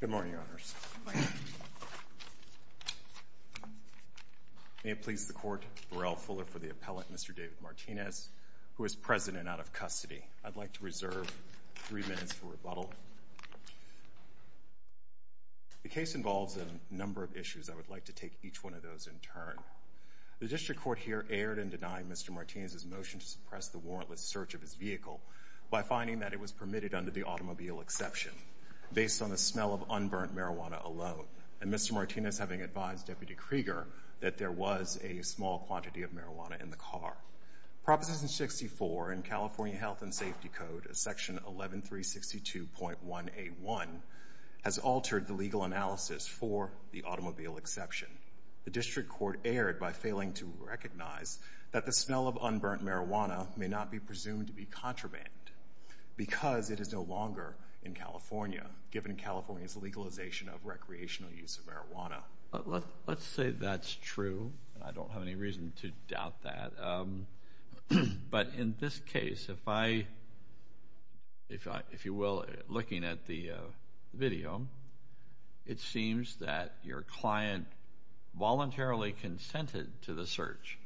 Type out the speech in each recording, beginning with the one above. Good morning, Your Honors. May it please the Court, Borrell Fuller for the appellate, Mr. David Martinez, who is present and out of custody. I'd like to reserve three minutes for rebuttal. The case involves a number of issues. I would like to take each one of those in turn. The District Court here erred in denying Mr. Martinez's motion to suppress the warrantless search of his vehicle by finding that it was permitted under the automobile exception based on the smell of unburnt marijuana alone, and Mr. Martinez having advised Deputy Krieger that there was a small quantity of marijuana in the car. Proposition 64 in California Health and Safety Code, Section 11362.181, has altered the legal analysis for the automobile exception. The District Court erred by failing to recognize that the smell of unburnt marijuana may not be presumed to be contraband because it is no longer in California, given California's legalization of recreational use of marijuana. Let's say that's true. I don't have any reason to doubt that. But in this case, if I, if you will, looking at the video, it seems that your client voluntarily consented to the search.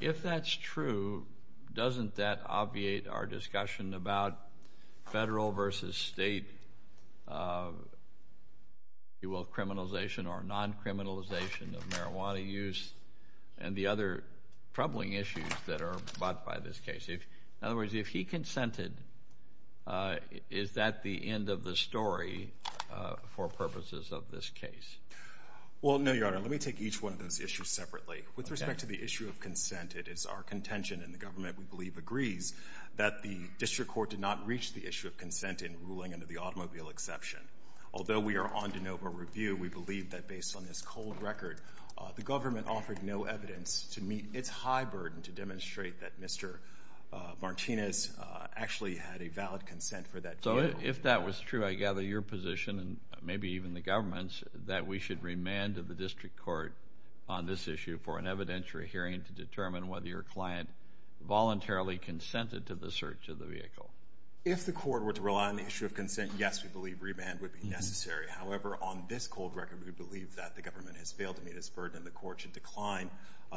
If that's true, doesn't that obviate our discussion about federal versus state, you will, criminalization or non-criminalization of marijuana use and the other troubling issues that are brought by this case? In other words, if he consented, is that the end of the story for purposes of this case? Well, no, Your Honor. Let me take each one of those issues separately. With respect to the issue of consent, it is our contention and the government, we believe, agrees that the District Court did not reach the issue of consent in ruling under the automobile exception. Although we are on de novo review, we believe that based on this cold record, the government offered no had a valid consent for that vehicle. So if that was true, I gather your position and maybe even the government's, that we should remand to the District Court on this issue for an evidentiary hearing to determine whether your client voluntarily consented to the search of the vehicle. If the court were to rely on the issue of consent, yes, we believe remand would be necessary. However, on this cold record, we believe that the government has failed to meet its burden and the court should decline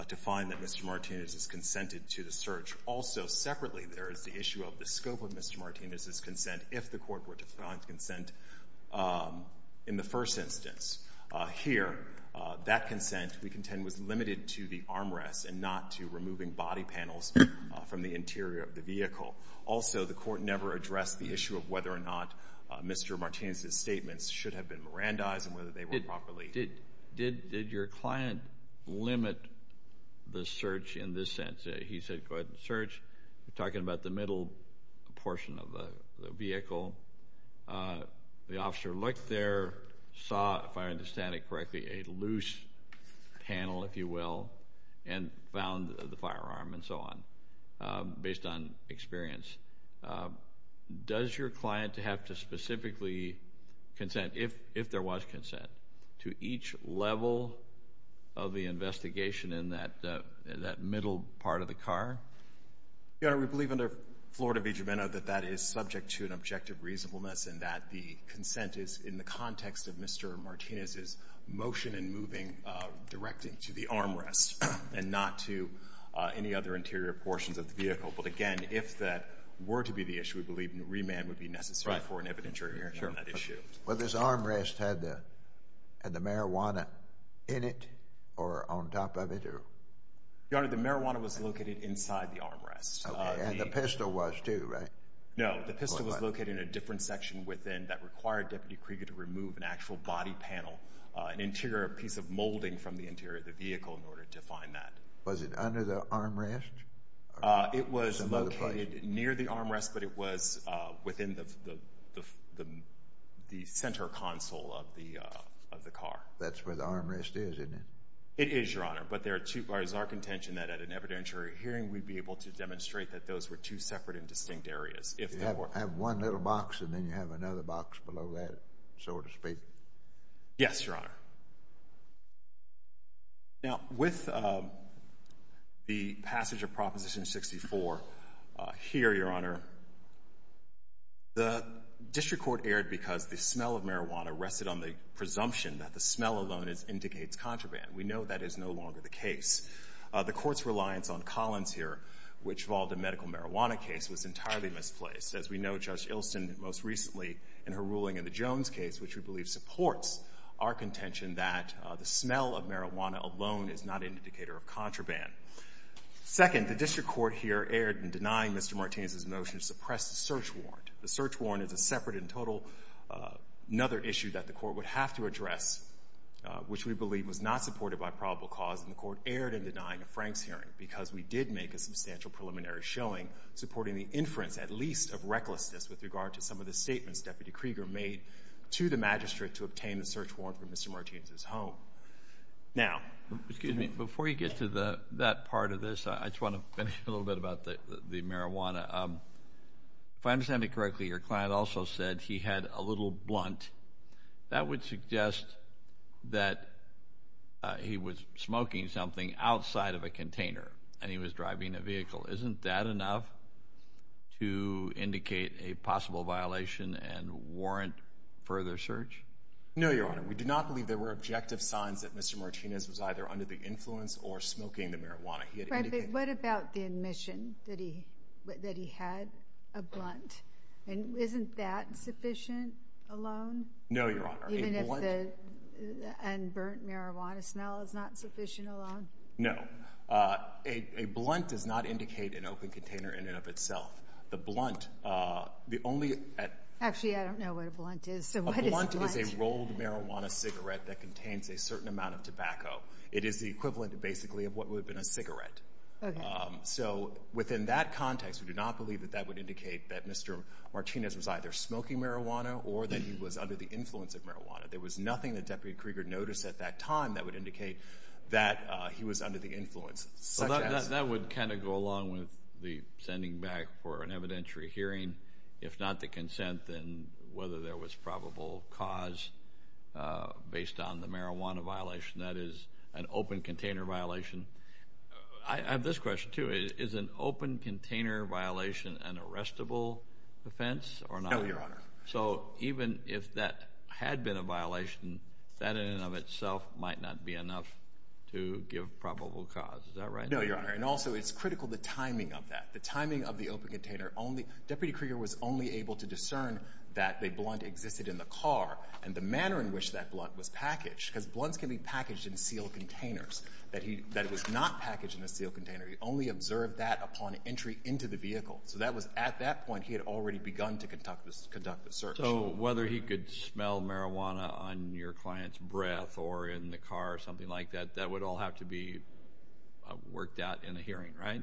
to find that Mr. Martinez has consented to the search. Also, separately, there is the issue of the scope of Mr. Martinez's consent if the court were to find consent in the first instance. Here, that consent, we contend, was limited to the armrests and not to removing body panels from the interior of the vehicle. Also, the court never addressed the issue of whether or not Mr. Martinez's statements should have been Mirandized and whether they were properly Did your client limit the search in this sense? He said, go ahead and search. You're talking about the middle portion of the vehicle. The officer looked there, saw, if I understand it correctly, a loose panel, if you will, and found the firearm and so on, based on experience. Does your client have to specifically consent, if there was consent, to each level of the investigation in that middle part of the car? Your Honor, we believe under Florida v. Gimeno that that is subject to an objective reasonableness and that the consent is in the context of Mr. Martinez's motion and moving directing to the armrests and not to any other interior portions of the vehicle. But again, if that were to be the issue, we believe remand would be necessary for an evidentiary hearing on that issue. Well, this armrest had the marijuana in it or on top of it? Your Honor, the marijuana was located inside the armrest. And the pistol was too, right? No, the pistol was located in a different section within that required Deputy Krieger to remove an actual body panel, an interior piece of molding from the interior of the vehicle in order to find that. Was it under the armrest? It was located near the armrest, but it was within the center console of the car. That's where the armrest is, isn't it? It is, Your Honor, but there are two parts. It is our contention that at an evidentiary hearing we'd be able to demonstrate that those were two separate and distinct areas. You have one little box and then you have another box below that, so to speak. Yes, Your Honor. Now, with the passage of Proposition 64, here, Your Honor, the district court erred because the smell of marijuana rested on the presumption that the smell alone indicates contraband. We know that is no longer the case. The court's reliance on Collins here, which involved a medical marijuana case, was entirely misplaced. As we know, Judge Ilston most recently in her ruling in the Jones case, which we believe supports our contention that the smell of marijuana alone is not an indicator of contraband. Second, the district court here erred in denying Mr. Martinez's motion to suppress the search warrant. The search warrant is a separate and total, another issue that the court would have to address, which we believe was not supported by probable cause, and the court erred in denying Frank's hearing because we did make a substantial preliminary showing supporting the inference, at least, of recklessness with regard to some of the statements Deputy Krieger made to the magistrate to obtain the search warrant for Mr. Martinez's home. Now, excuse me, before you get to that part of this, I just want to finish a little bit about the marijuana. If I understand it correctly, your client also said he had a little blunt. That would suggest that he was smoking something outside of a container and he was driving a vehicle. Isn't that enough to indicate a possible violation and warrant further search? No, Your Honor. We do not believe there were objective signs that Mr. Martinez was either under the influence or smoking the marijuana he had indicated. But what about the admission that he had a blunt? Isn't that sufficient alone? No, Your Honor. Even if the unburnt marijuana smell is not sufficient alone? No. A blunt does not indicate an open container in and of itself. The blunt, the only— Actually, I don't know what a blunt is, so what is a blunt? A blunt is a rolled marijuana cigarette that contains a certain amount of tobacco. It is the equivalent, basically, of what would have been a cigarette. Okay. So within that context, we do not believe that that would indicate that Mr. Martinez was either smoking marijuana or that he was under the influence of marijuana. There was nothing that Deputy Krieger noticed at that time that would indicate that he was under the influence. That would kind of go along with the sending back for an evidentiary hearing. If not the consent, then whether there was probable cause based on the marijuana violation, that is an open container violation. I have this question, too. Is an open container violation an arrestable offense or not? No, Your Honor. So even if that had been a violation, that in and of itself might not be enough to give probable cause. Is that right? No, Your Honor, and also it's critical the timing of that, the timing of the open container. Deputy Krieger was only able to discern that the blunt existed in the car and the manner in which that blunt was packaged because blunts can be packaged in sealed containers. That it was not packaged in a sealed container. He only observed that upon entry into the vehicle. So that was at that point he had already begun to conduct the search. So whether he could smell marijuana on your client's breath or in the car or something like that, that would all have to be worked out in a hearing, right?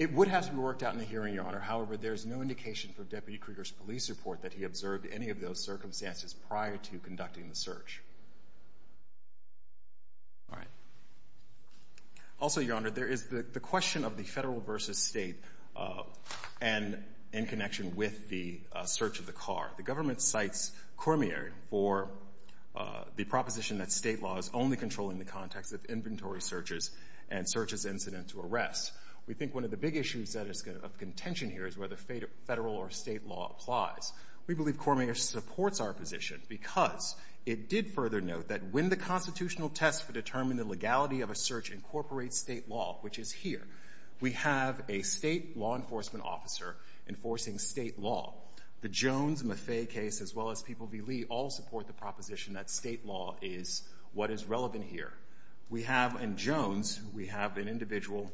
It would have to be worked out in a hearing, Your Honor. However, there is no indication from Deputy Krieger's police report that he observed any of those circumstances prior to conducting the search. All right. Also, Your Honor, there is the question of the Federal versus State and in connection with the search of the car. The government cites Cormier for the proposition that State law is only controlling the context of inventory searches and searches incident to arrest. We think one of the big issues of contention here is whether Federal or State law applies. We believe Cormier supports our position because it did further note that when the constitutional test for determining the legality of a search incorporates State law, which is here, we have a State law enforcement officer enforcing State law. The Jones and Maffei case, as well as People v. Lee, all support the proposition that State law is what is relevant here. We have in Jones, we have an individual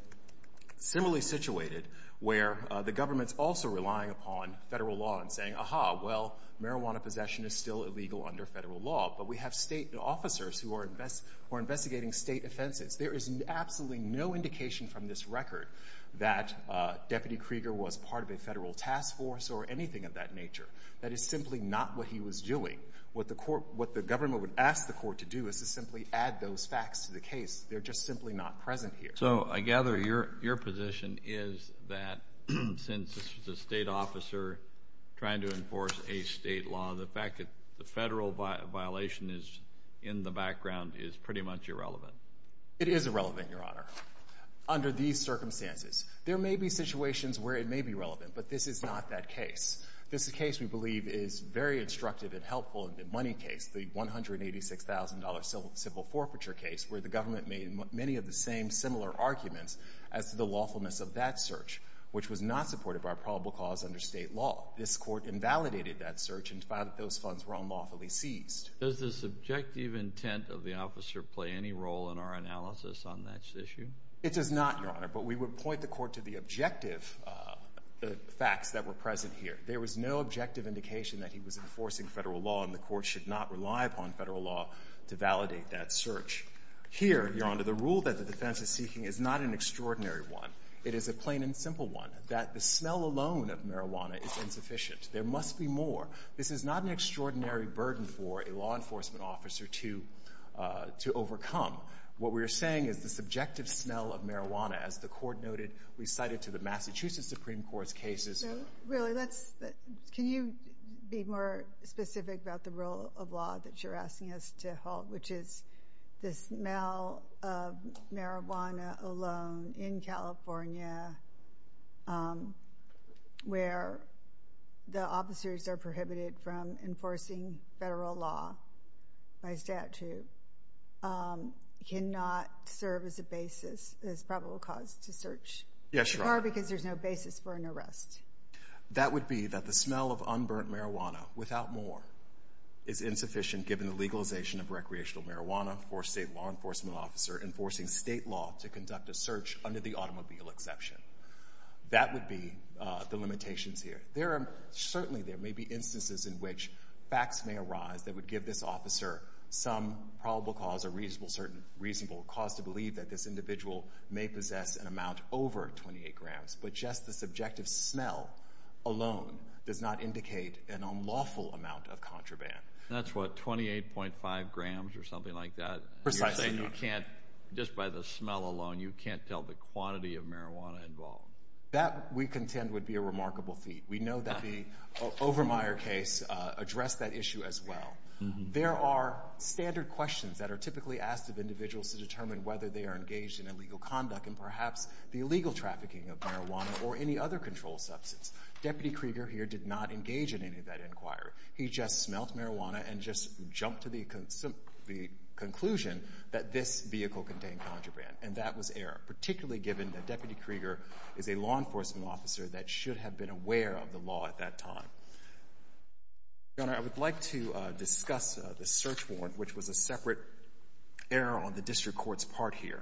similarly situated where the government's also relying upon Federal law and saying, aha, well, marijuana possession is still illegal under Federal law, but we have State officers who are investigating State offenses. There is absolutely no indication from this record that Deputy Krieger was part of a Federal task force or anything of that nature. That is simply not what he was doing. What the government would ask the court to do is to simply add those facts to the case. They're just simply not present here. So I gather your position is that since this is a State officer trying to enforce a State law, the fact that the Federal violation is in the background is pretty much irrelevant. It is irrelevant, Your Honor, under these circumstances. There may be situations where it may be relevant, but this is not that case. This is a case we believe is very instructive and helpful in the money case, the $186,000 civil forfeiture case, where the government made many of the same similar arguments as to the lawfulness of that search, which was not supportive of our probable cause under State law. This court invalidated that search and found that those funds were unlawfully seized. Does the subjective intent of the officer play any role in our analysis on that issue? It does not, Your Honor, but we would point the court to the objective facts that were present here. There was no objective indication that he was enforcing Federal law, and the court should not rely upon Federal law to validate that search. Here, Your Honor, the rule that the defense is seeking is not an extraordinary one. It is a plain and simple one, that the smell alone of marijuana is insufficient. There must be more. This is not an extraordinary burden for a law enforcement officer to overcome. What we are saying is the subjective smell of marijuana, as the court noted, recited to the Massachusetts Supreme Court's cases. Really, can you be more specific about the rule of law that you're asking us to hold, which is the smell of marijuana alone in California, where the officers are prohibited from enforcing Federal law by statute, cannot serve as a basis as probable cause to search? Yes, Your Honor. Or because there's no basis for an arrest. That would be that the smell of unburnt marijuana, without more, is insufficient given the legalization of recreational marijuana for a state law enforcement officer enforcing state law to conduct a search under the automobile exception. That would be the limitations here. Certainly, there may be instances in which facts may arise that would give this officer some probable cause or reasonable cause to believe that this individual may possess an amount over 28 grams, but just the subjective smell alone does not indicate an unlawful amount of contraband. That's what, 28.5 grams or something like that? Precisely, Your Honor. You're saying you can't, just by the smell alone, you can't tell the quantity of marijuana involved? That, we contend, would be a remarkable feat. We know that the Overmyer case addressed that issue as well. There are standard questions that are typically asked of individuals to determine whether they are engaged in illegal conduct and perhaps the illegal trafficking of marijuana or any other controlled substance. Deputy Krieger here did not engage in any of that inquiry. He just smelled marijuana and just jumped to the conclusion that this vehicle contained contraband, and that was error, particularly given that Deputy Krieger is a law enforcement officer that should have been aware of the law at that time. Your Honor, I would like to discuss the search warrant, which was a separate error on the district court's part here.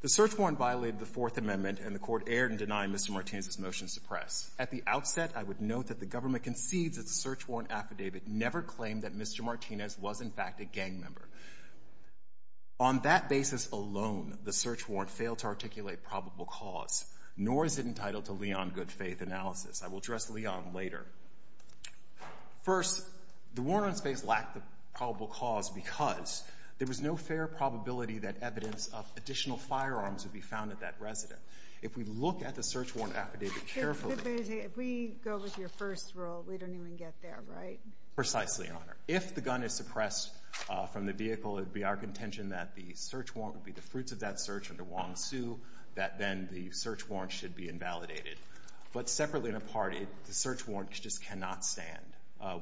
The search warrant violated the Fourth Amendment, and the court erred in denying Mr. Martinez's motion to suppress. At the outset, I would note that the government concedes that the search warrant affidavit never claimed that Mr. Martinez was, in fact, a gang member. On that basis alone, the search warrant failed to articulate probable cause, nor is it entitled to Leon Goodfaith analysis. I will address Leon later. First, the warrant on space lacked the probable cause because there was no fair probability that evidence of additional firearms would be found at that resident. If we look at the search warrant affidavit carefully — If we go with your first rule, we don't even get there, right? Precisely, Your Honor. If the gun is suppressed from the vehicle, it would be our contention that the search warrant would be the fruits of that search under Wong Sue, that then the search warrant should be invalidated. But separately and apart, the search warrant just cannot stand.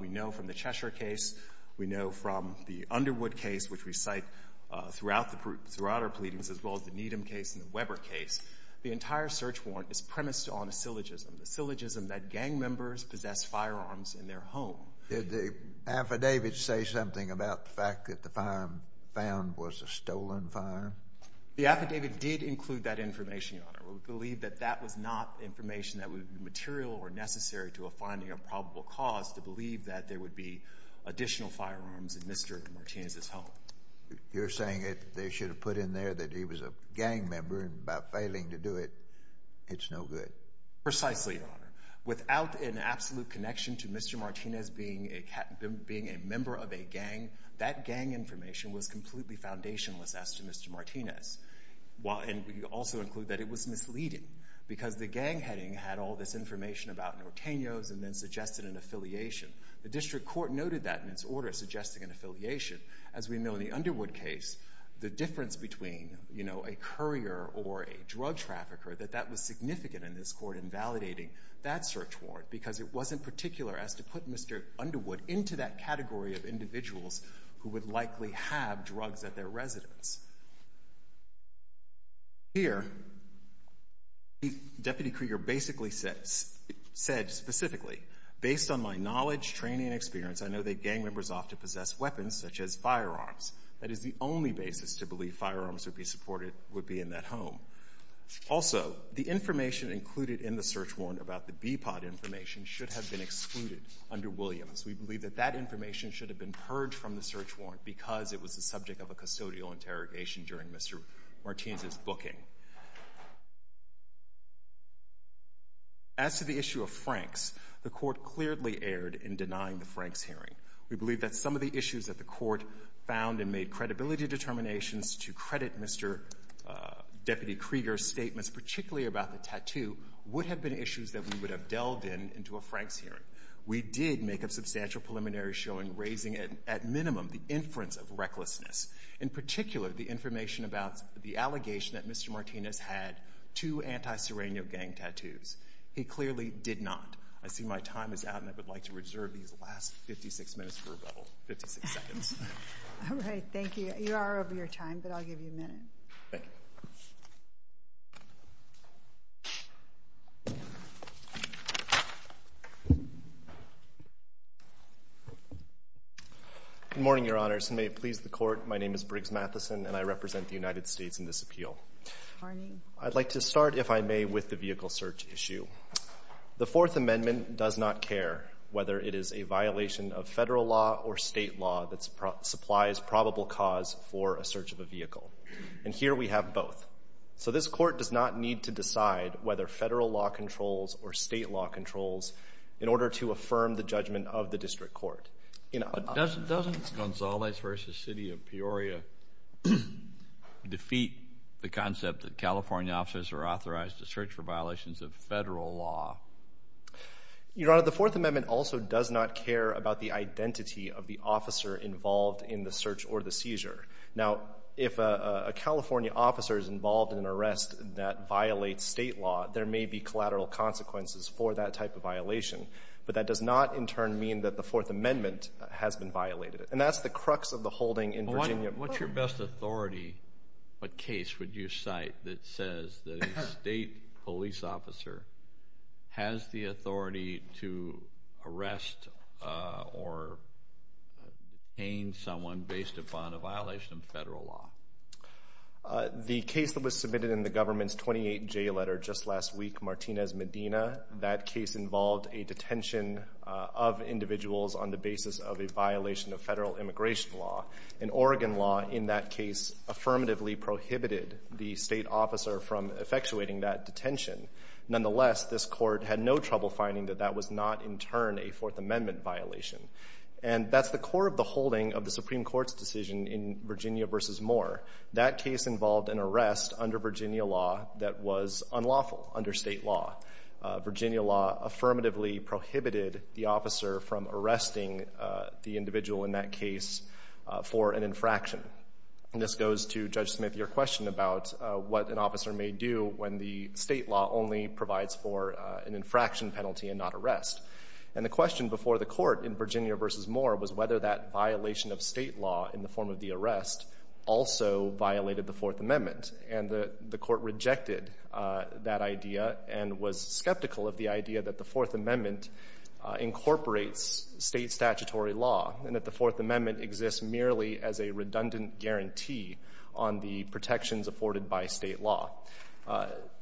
We know from the Cheshire case. We know from the Underwood case, which we cite throughout our pleadings, as well as the Needham case and the Weber case. The entire search warrant is premised on a syllogism, the syllogism that gang members possess firearms in their home. Did the affidavit say something about the fact that the firearm found was a stolen firearm? The affidavit did include that information, Your Honor. We believe that that was not information that would be material or necessary to a finding of probable cause to believe that there would be additional firearms in Mr. Martinez's home. You're saying that they should have put in there that he was a gang member and by failing to do it, it's no good. Precisely, Your Honor. Without an absolute connection to Mr. Martinez being a member of a gang, that gang information was completely foundationless as to Mr. Martinez. And we also include that it was misleading because the gang heading had all this information about Nortenos and then suggested an affiliation. The district court noted that in its order, suggesting an affiliation. As we know in the Underwood case, the difference between, you know, a courier or a drug trafficker, that that was significant in this court in validating that search warrant because it wasn't particular as to put Mr. Underwood into that category of individuals who would likely have drugs at their residence. Here, Deputy Krieger basically said specifically, based on my knowledge, training, and experience, I know that gang members often possess weapons such as firearms. That is the only basis to believe firearms would be in that home. Also, the information included in the search warrant about the BPOD information should have been excluded under Williams. We believe that that information should have been purged from the search warrant because it was the subject of a custodial interrogation during Mr. Martinez's booking. As to the issue of Franks, the Court clearly erred in denying the Franks hearing. We believe that some of the issues that the Court found and made credibility determinations to credit Mr. Deputy Krieger's statements, particularly about the tattoo, would have been issues that we would have delved in into a Franks hearing. We did make a substantial preliminary showing, raising at minimum the inference of recklessness. In particular, the information about the allegation that Mr. Martinez had two anti-Serrano gang tattoos. He clearly did not. I see my time is out, and I would like to reserve these last 56 minutes for rebuttal. 56 seconds. All right. Thank you. Thank you. Good morning, Your Honors. May it please the Court, my name is Briggs Matheson, and I represent the United States in this appeal. I'd like to start, if I may, with the vehicle search issue. The Fourth Amendment does not care whether it is a violation of Federal law or State law that supplies probable cause for a search of a vehicle. And here we have both. So this Court does not need to decide whether Federal law controls or State law controls in order to affirm the judgment of the District Court. Doesn't Gonzales v. City of Peoria defeat the concept that California officers are authorized to search for violations of Federal law? Your Honor, the Fourth Amendment also does not care about the identity of the officer involved in the search or the seizure. Now, if a California officer is involved in an arrest that violates State law, there may be collateral consequences for that type of violation. But that does not, in turn, mean that the Fourth Amendment has been violated. And that's the crux of the holding in Virginia. What's your best authority? What case would you cite that says that a State police officer has the authority to arrest or detain someone based upon a violation of Federal law? The case that was submitted in the government's 28-J letter just last week, Martinez-Medina, that case involved a detention of individuals on the basis of a violation of Federal immigration law. And Oregon law in that case affirmatively prohibited the State officer from effectuating that detention. Nonetheless, this Court had no trouble finding that that was not, in turn, a Fourth Amendment violation. And that's the core of the holding of the Supreme Court's decision in Virginia v. Moore. That case involved an arrest under Virginia law that was unlawful under State law. Virginia law affirmatively prohibited the officer from arresting the individual in that case for an infraction. And this goes to, Judge Smith, your question about what an officer may do when the State law only provides for an infraction penalty and not arrest. And the question before the Court in Virginia v. Moore was whether that violation of State law in the form of the arrest also violated the Fourth Amendment. And the Court rejected that idea and was skeptical of the idea that the Fourth Amendment incorporates State statutory law. And that the Fourth Amendment exists merely as a redundant guarantee on the protections afforded by State law.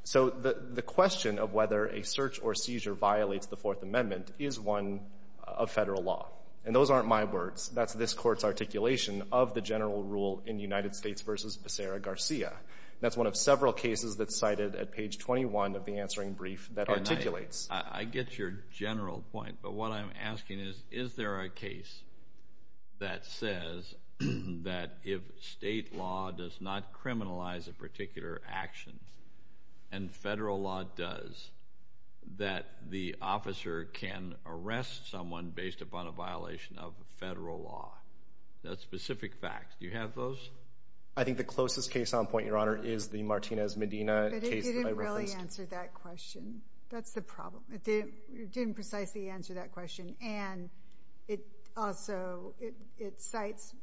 So the question of whether a search or seizure violates the Fourth Amendment is one of Federal law. And those aren't my words. That's this Court's articulation of the general rule in United States v. Becerra-Garcia. That's one of several cases that's cited at page 21 of the answering brief that articulates. I get your general point. But what I'm asking is, is there a case that says that if State law does not criminalize a particular action and Federal law does, that the officer can arrest someone based upon a violation of Federal law? That's specific facts. Do you have those? I think the closest case on point, Your Honor, is the Martinez-Medina case that I referenced. It didn't precisely answer that question. That's the problem. It didn't precisely answer that question. And it also — it cites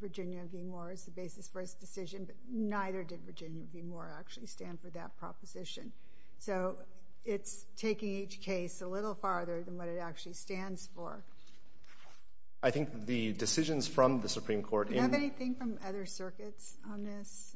Virginia v. Moore as the basis for its decision, but neither did Virginia v. Moore actually stand for that proposition. So it's taking each case a little farther than what it actually stands for. I think the decisions from the Supreme Court in — Do you have anything from other circuits on this?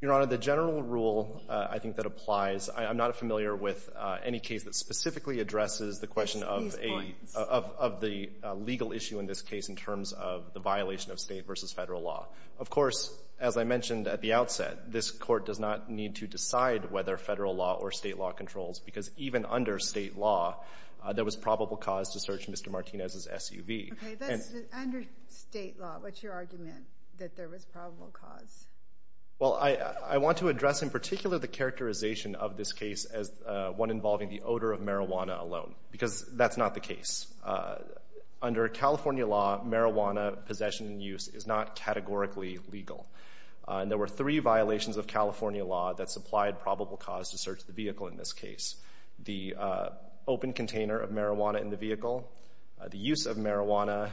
Your Honor, the general rule, I think, that applies. I'm not familiar with any case that specifically addresses the question of a — These points. — of the legal issue in this case in terms of the violation of State v. Federal law. Of course, as I mentioned at the outset, this Court does not need to decide whether Federal law or State law controls, because even under State law, there was probable cause to search Mr. Martinez's SUV. Okay. Under State law, what's your argument that there was probable cause? Well, I want to address in particular the characterization of this case as one involving the odor of marijuana alone, because that's not the case. Under California law, marijuana possession and use is not categorically legal. And there were three violations of California law that supplied probable cause to search the vehicle in this case. The open container of marijuana in the vehicle, the use of marijuana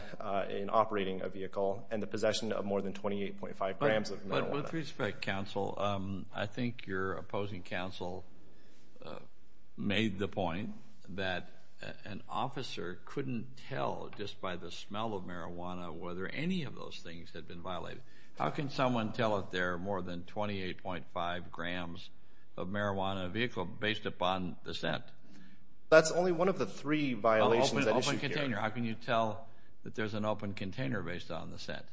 in operating a vehicle, and the possession of more than 28.5 grams of marijuana. But with respect, counsel, I think your opposing counsel made the point that an officer couldn't tell just by the smell of marijuana whether any of those things had been violated. How can someone tell if there are more than 28.5 grams of marijuana in a vehicle based upon the scent? That's only one of the three violations that issue here. How can you tell that there's an open container based on the scent?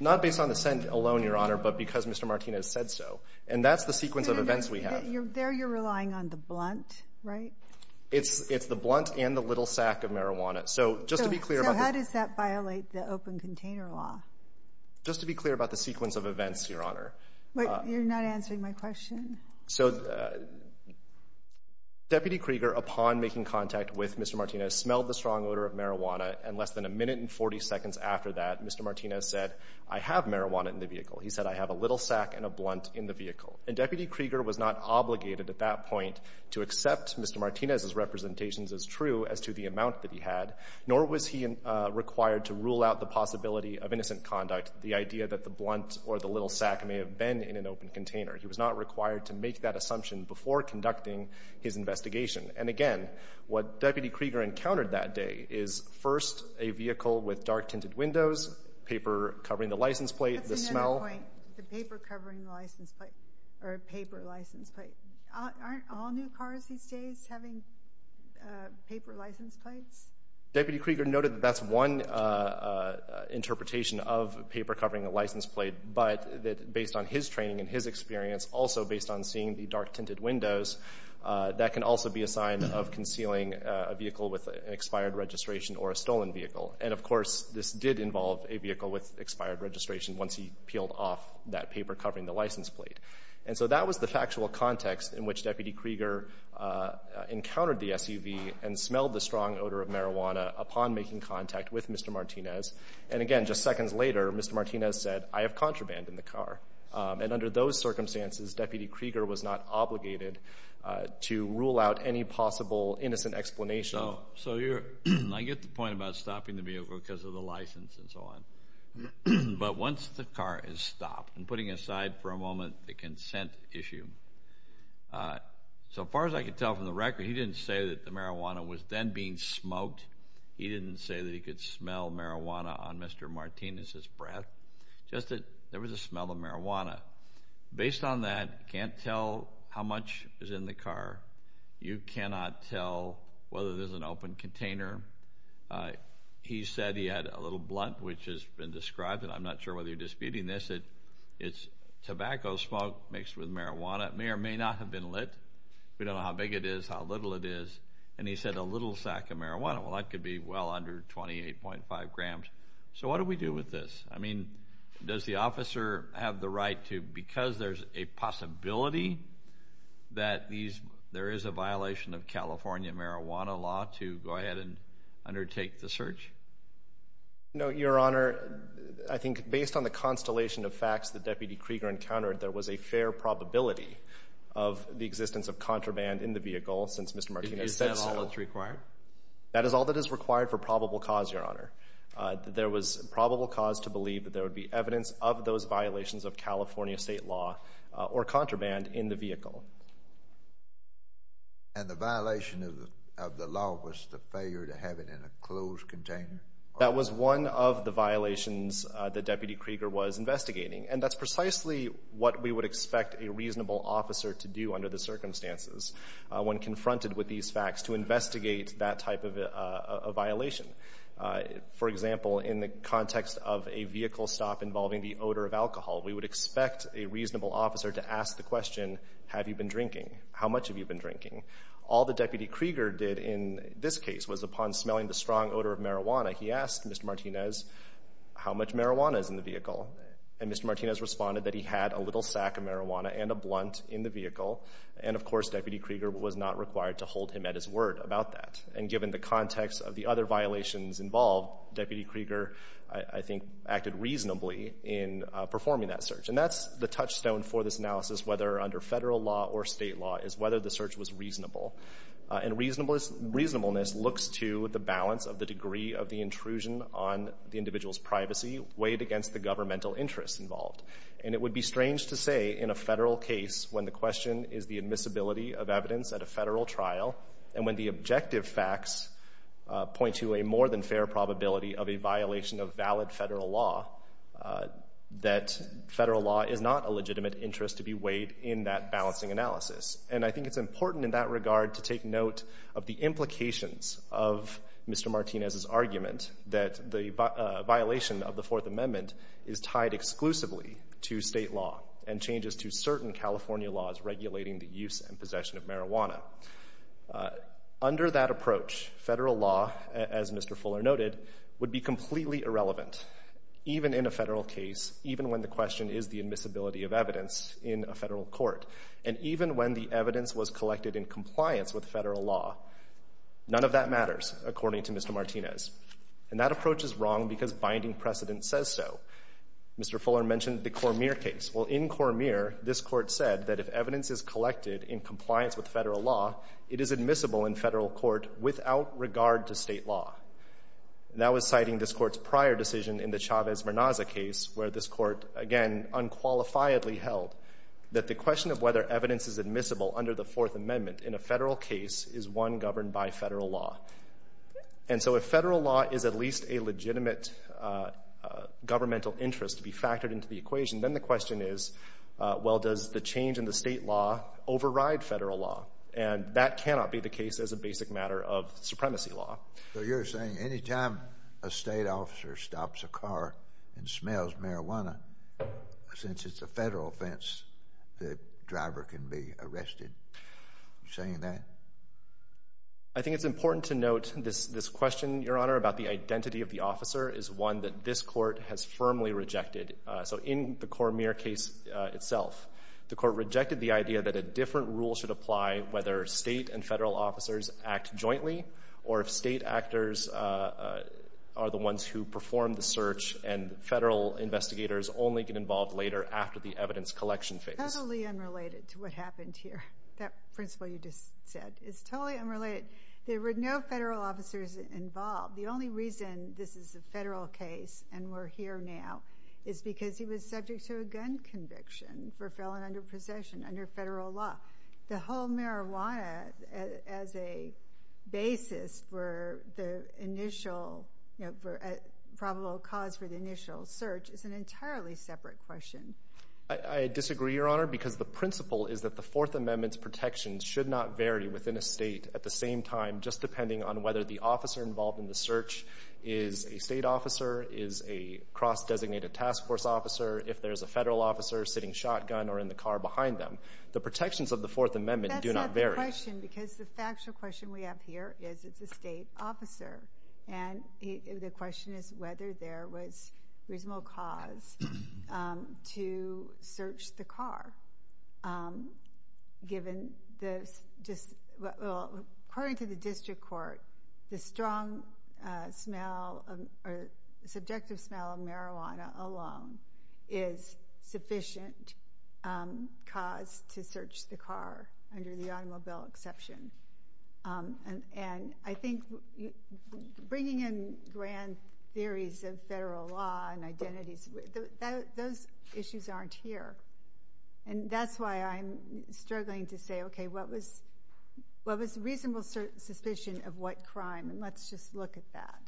Not based on the scent alone, Your Honor, but because Mr. Martinez said so. And that's the sequence of events we have. There you're relying on the blunt, right? It's the blunt and the little sack of marijuana. So just to be clear about this. So how does that violate the open container law? Just to be clear about the sequence of events, Your Honor. You're not answering my question? So Deputy Krieger, upon making contact with Mr. Martinez, smelled the strong odor of marijuana, and less than a minute and 40 seconds after that, Mr. Martinez said, I have marijuana in the vehicle. He said, I have a little sack and a blunt in the vehicle. And Deputy Krieger was not obligated at that point to accept Mr. Martinez's representations as true as to the amount that he had, nor was he required to rule out the possibility of innocent conduct, the idea that the blunt or the little sack may have been in an open container. He was not required to make that assumption before conducting his investigation. And again, what Deputy Krieger encountered that day is first a vehicle with dark tinted windows, paper covering the license plate, the smell. That's another point. The paper covering the license plate, or paper license plate. Aren't all new cars these days having paper license plates? Deputy Krieger noted that that's one interpretation of paper covering a license plate, but that based on his training and his experience, also based on seeing the dark tinted windows, that can also be a sign of concealing a vehicle with expired registration or a stolen vehicle. And, of course, this did involve a vehicle with expired registration once he peeled off that paper covering the license plate. And so that was the factual context in which Deputy Krieger encountered the SUV and smelled the strong odor of marijuana upon making contact with Mr. Martinez. And, again, just seconds later, Mr. Martinez said, I have contraband in the car. And under those circumstances, Deputy Krieger was not obligated to rule out any possible innocent explanation. So I get the point about stopping the vehicle because of the license and so on. But once the car is stopped, and putting aside for a moment the consent issue, so far as I can tell from the record, he didn't say that the marijuana was then being smoked. He didn't say that he could smell marijuana on Mr. Martinez's breath. Just that there was a smell of marijuana. Based on that, you can't tell how much is in the car. You cannot tell whether there's an open container. He said he had a little blunt, which has been described, and I'm not sure whether you're disputing this, that it's tobacco smoke mixed with marijuana. It may or may not have been lit. We don't know how big it is, how little it is. And he said a little sack of marijuana. Well, that could be well under 28.5 grams. So what do we do with this? I mean, does the officer have the right to, because there's a possibility that there is a violation of California marijuana law, to go ahead and undertake the search? No, Your Honor. I think based on the constellation of facts that Deputy Krieger encountered, there was a fair probability of the existence of contraband in the vehicle since Mr. Martinez said so. Is that all that's required? That is all that is required for probable cause, Your Honor. There was probable cause to believe that there would be evidence of those violations of California state law or contraband in the vehicle. And the violation of the law was the failure to have it in a closed container? That was one of the violations that Deputy Krieger was investigating, and that's precisely what we would expect a reasonable officer to do under the circumstances when confronted with these facts to investigate that type of violation. For example, in the context of a vehicle stop involving the odor of alcohol, we would expect a reasonable officer to ask the question, have you been drinking, how much have you been drinking? All that Deputy Krieger did in this case was upon smelling the strong odor of marijuana, he asked Mr. Martinez how much marijuana is in the vehicle. And Mr. Martinez responded that he had a little sack of marijuana and a blunt in the vehicle. And, of course, Deputy Krieger was not required to hold him at his word about that. And given the context of the other violations involved, Deputy Krieger, I think, acted reasonably in performing that search. And that's the touchstone for this analysis, whether under federal law or state law, is whether the search was reasonable. And reasonableness looks to the balance of the degree of the intrusion on the individual's privacy weighed against the governmental interest involved. And it would be strange to say in a federal case when the question is the admissibility of evidence at a federal trial and when the objective facts point to a more than fair probability of a violation of valid federal law that federal law is not a legitimate interest to be weighed in that balancing analysis. And I think it's important in that regard to take note of the implications of Mr. Martinez's argument that the violation of the Fourth Amendment is tied exclusively to state law and changes to certain California laws regulating the use and possession of marijuana. Under that approach, federal law, as Mr. Fuller noted, would be completely irrelevant, even in a federal case, even when the question is the admissibility of evidence in a federal court, and even when the evidence was collected in compliance with federal law. None of that matters, according to Mr. Martinez. And that approach is wrong because binding precedent says so. Mr. Fuller mentioned the Cormier case. Well, in Cormier, this Court said that if evidence is collected in compliance with federal law, it is admissible in federal court without regard to state law. That was citing this Court's prior decision in the Chavez-Mernaza case, where this Court, again, unqualifiedly held that the question of whether evidence is admissible under the Fourth Amendment in a federal case is one governed by federal law. And so if federal law is at least a legitimate governmental interest to be factored into the equation, then the question is, well, does the change in the state law override federal law? And that cannot be the case as a basic matter of supremacy law. So you're saying any time a state officer stops a car and smells marijuana, since it's a federal offense, the driver can be arrested? Are you saying that? I think it's important to note this question, Your Honor, about the identity of the officer is one that this Court has firmly rejected. So in the Cormier case itself, the Court rejected the idea that a different rule should apply whether state and federal officers act jointly or if state actors are the ones who perform the search and federal investigators only get involved later after the evidence collection phase. Totally unrelated to what happened here. That principle you just said is totally unrelated. There were no federal officers involved. The only reason this is a federal case and we're here now is because he was subject to a gun conviction for a felon under possession under federal law. The whole marijuana as a basis for the initial probable cause for the initial search is an entirely separate question. I disagree, Your Honor, because the principle is that the Fourth Amendment's protections should not vary within a state at the same time just depending on whether the officer involved in the search is a state officer, is a cross-designated task force officer, if there's a federal officer sitting shotgun or in the car behind them. The protections of the Fourth Amendment do not vary. That's not the question because the factual question we have here is it's a state officer. And the question is whether there was reasonable cause to search the car. According to the district court, the strong smell or subjective smell of marijuana alone is sufficient cause to search the car under the automobile exception. And I think bringing in grand theories of federal law and identities, those issues aren't here. And that's why I'm struggling to say, okay, what was reasonable suspicion of what crime? And let's just look at that.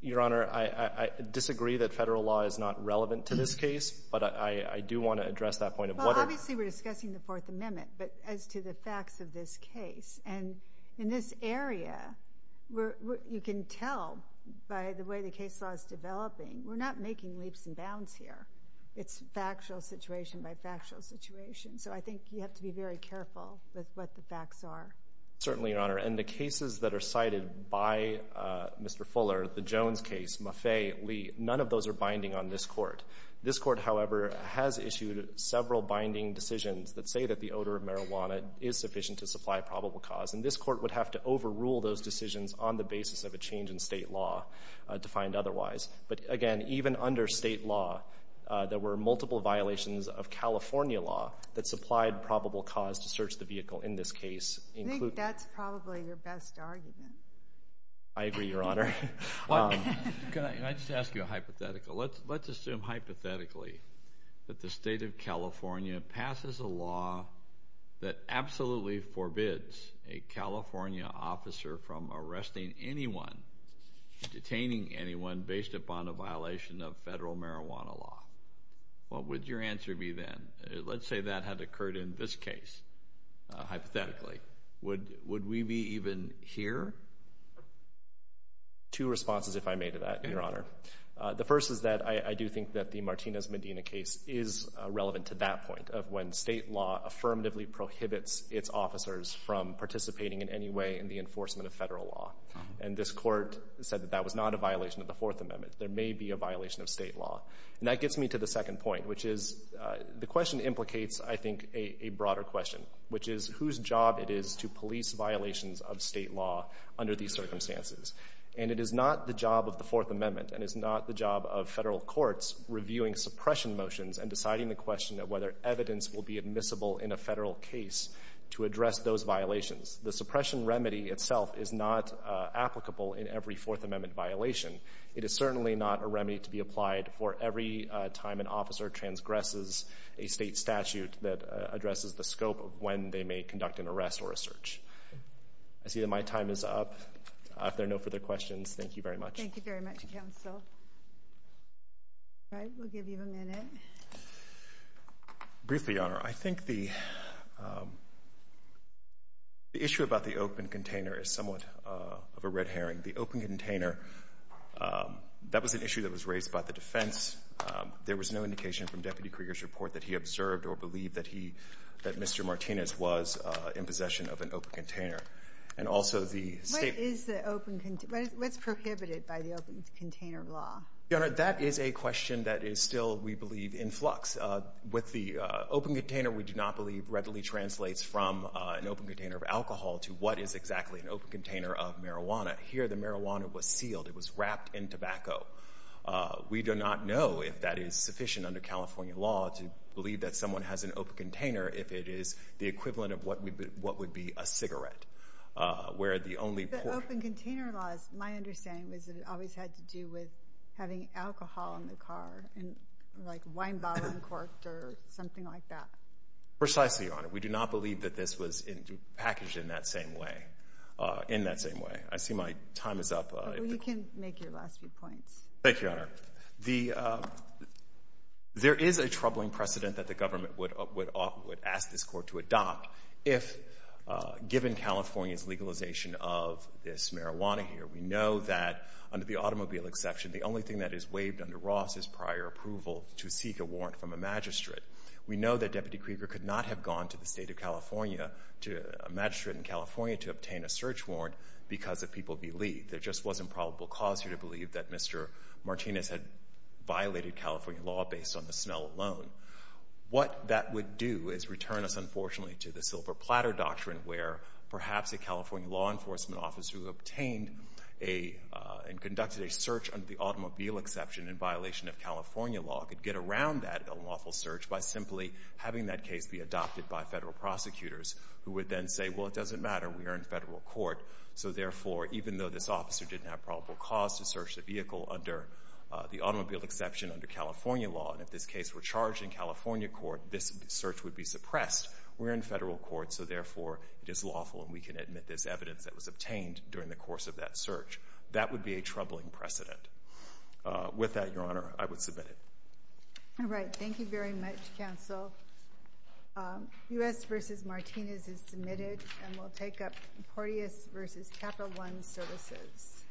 Your Honor, I disagree that federal law is not relevant to this case, but I do want to address that point. Well, obviously we're discussing the Fourth Amendment, but as to the facts of this case. And in this area, you can tell by the way the case law is developing, we're not making leaps and bounds here. It's factual situation by factual situation. So I think you have to be very careful with what the facts are. Certainly, Your Honor. And the cases that are cited by Mr. Fuller, the Jones case, Maffei, Lee, none of those are binding on this Court. This Court, however, has issued several binding decisions that say that the odor of marijuana is sufficient to supply probable cause. And this Court would have to overrule those decisions on the basis of a change in state law defined otherwise. But, again, even under state law, there were multiple violations of California law that supplied probable cause to search the vehicle in this case. I think that's probably your best argument. I agree, Your Honor. Can I just ask you a hypothetical? Let's assume hypothetically that the state of California passes a law that absolutely forbids a California officer from arresting anyone, detaining anyone, based upon a violation of federal marijuana law. What would your answer be then? Let's say that had occurred in this case, hypothetically. Would we be even here? Two responses, if I may, to that, Your Honor. The first is that I do think that the Martinez-Medina case is relevant to that point of when state law affirmatively prohibits its officers from participating in any way in the enforcement of federal law. And this Court said that that was not a violation of the Fourth Amendment. There may be a violation of state law. And that gets me to the second point, which is the question implicates, I think, a broader question, which is whose job it is to police violations of state law under these circumstances. And it is not the job of the Fourth Amendment and it is not the job of federal courts reviewing suppression motions and deciding the question of whether evidence will be admissible in a federal case to address those violations. The suppression remedy itself is not applicable in every Fourth Amendment violation. It is certainly not a remedy to be applied for every time an officer transgresses a state statute that addresses the scope of when they may conduct an arrest or a search. I see that my time is up. If there are no further questions, thank you very much. Thank you very much, Counsel. All right, we'll give you a minute. Briefly, Your Honor, I think the issue about the open container is somewhat of a red herring. The open container, that was an issue that was raised about the defense. There was no indication from Deputy Krieger's report that he observed or believed that he — that Mr. Martinez was in possession of an open container. And also the State — What is the open — what's prohibited by the open container law? Your Honor, that is a question that is still, we believe, in flux. With the open container, we do not believe readily translates from an open container of alcohol to what is exactly an open container of marijuana. Here, the marijuana was sealed. It was wrapped in tobacco. We do not know if that is sufficient under California law to believe that someone has an open container if it is the equivalent of what would be a cigarette, where the only — The open container law, my understanding was that it always had to do with having alcohol in the car, like a wine bottle uncorked or something like that. Precisely, Your Honor. We do not believe that this was packaged in that same way, in that same way. I see my time is up. You can make your last few points. Thank you, Your Honor. The — there is a troubling precedent that the government would ask this Court to adopt if given California's legalization of this marijuana here. We know that under the automobile exception, the only thing that is waived under Ross is prior approval to seek a warrant from a magistrate. We know that Deputy Krieger could not have gone to the State of California, to a magistrate in California, to obtain a search warrant because of people believed. There just wasn't probable cause here to believe that Mr. Martinez had violated California law based on the smell alone. What that would do is return us, unfortunately, to the silver platter doctrine where perhaps a California law enforcement officer who obtained a — and conducted a search under the automobile exception in violation of California law could get around that unlawful search by simply having that case be adopted by Federal prosecutors who would then say, well, it doesn't matter. We are in Federal court. So, therefore, even though this officer didn't have probable cause to search the vehicle under the automobile exception under California law, and if this case were charged in California court, this search would be suppressed. We're in Federal court, so, therefore, it is lawful and we can admit there's evidence that was obtained during the course of that search. That would be a troubling precedent. With that, Your Honor, I would submit it. All right. Thank you very much, counsel. U.S. v. Martinez is submitted and we'll take up Porteous v. Capital One Services.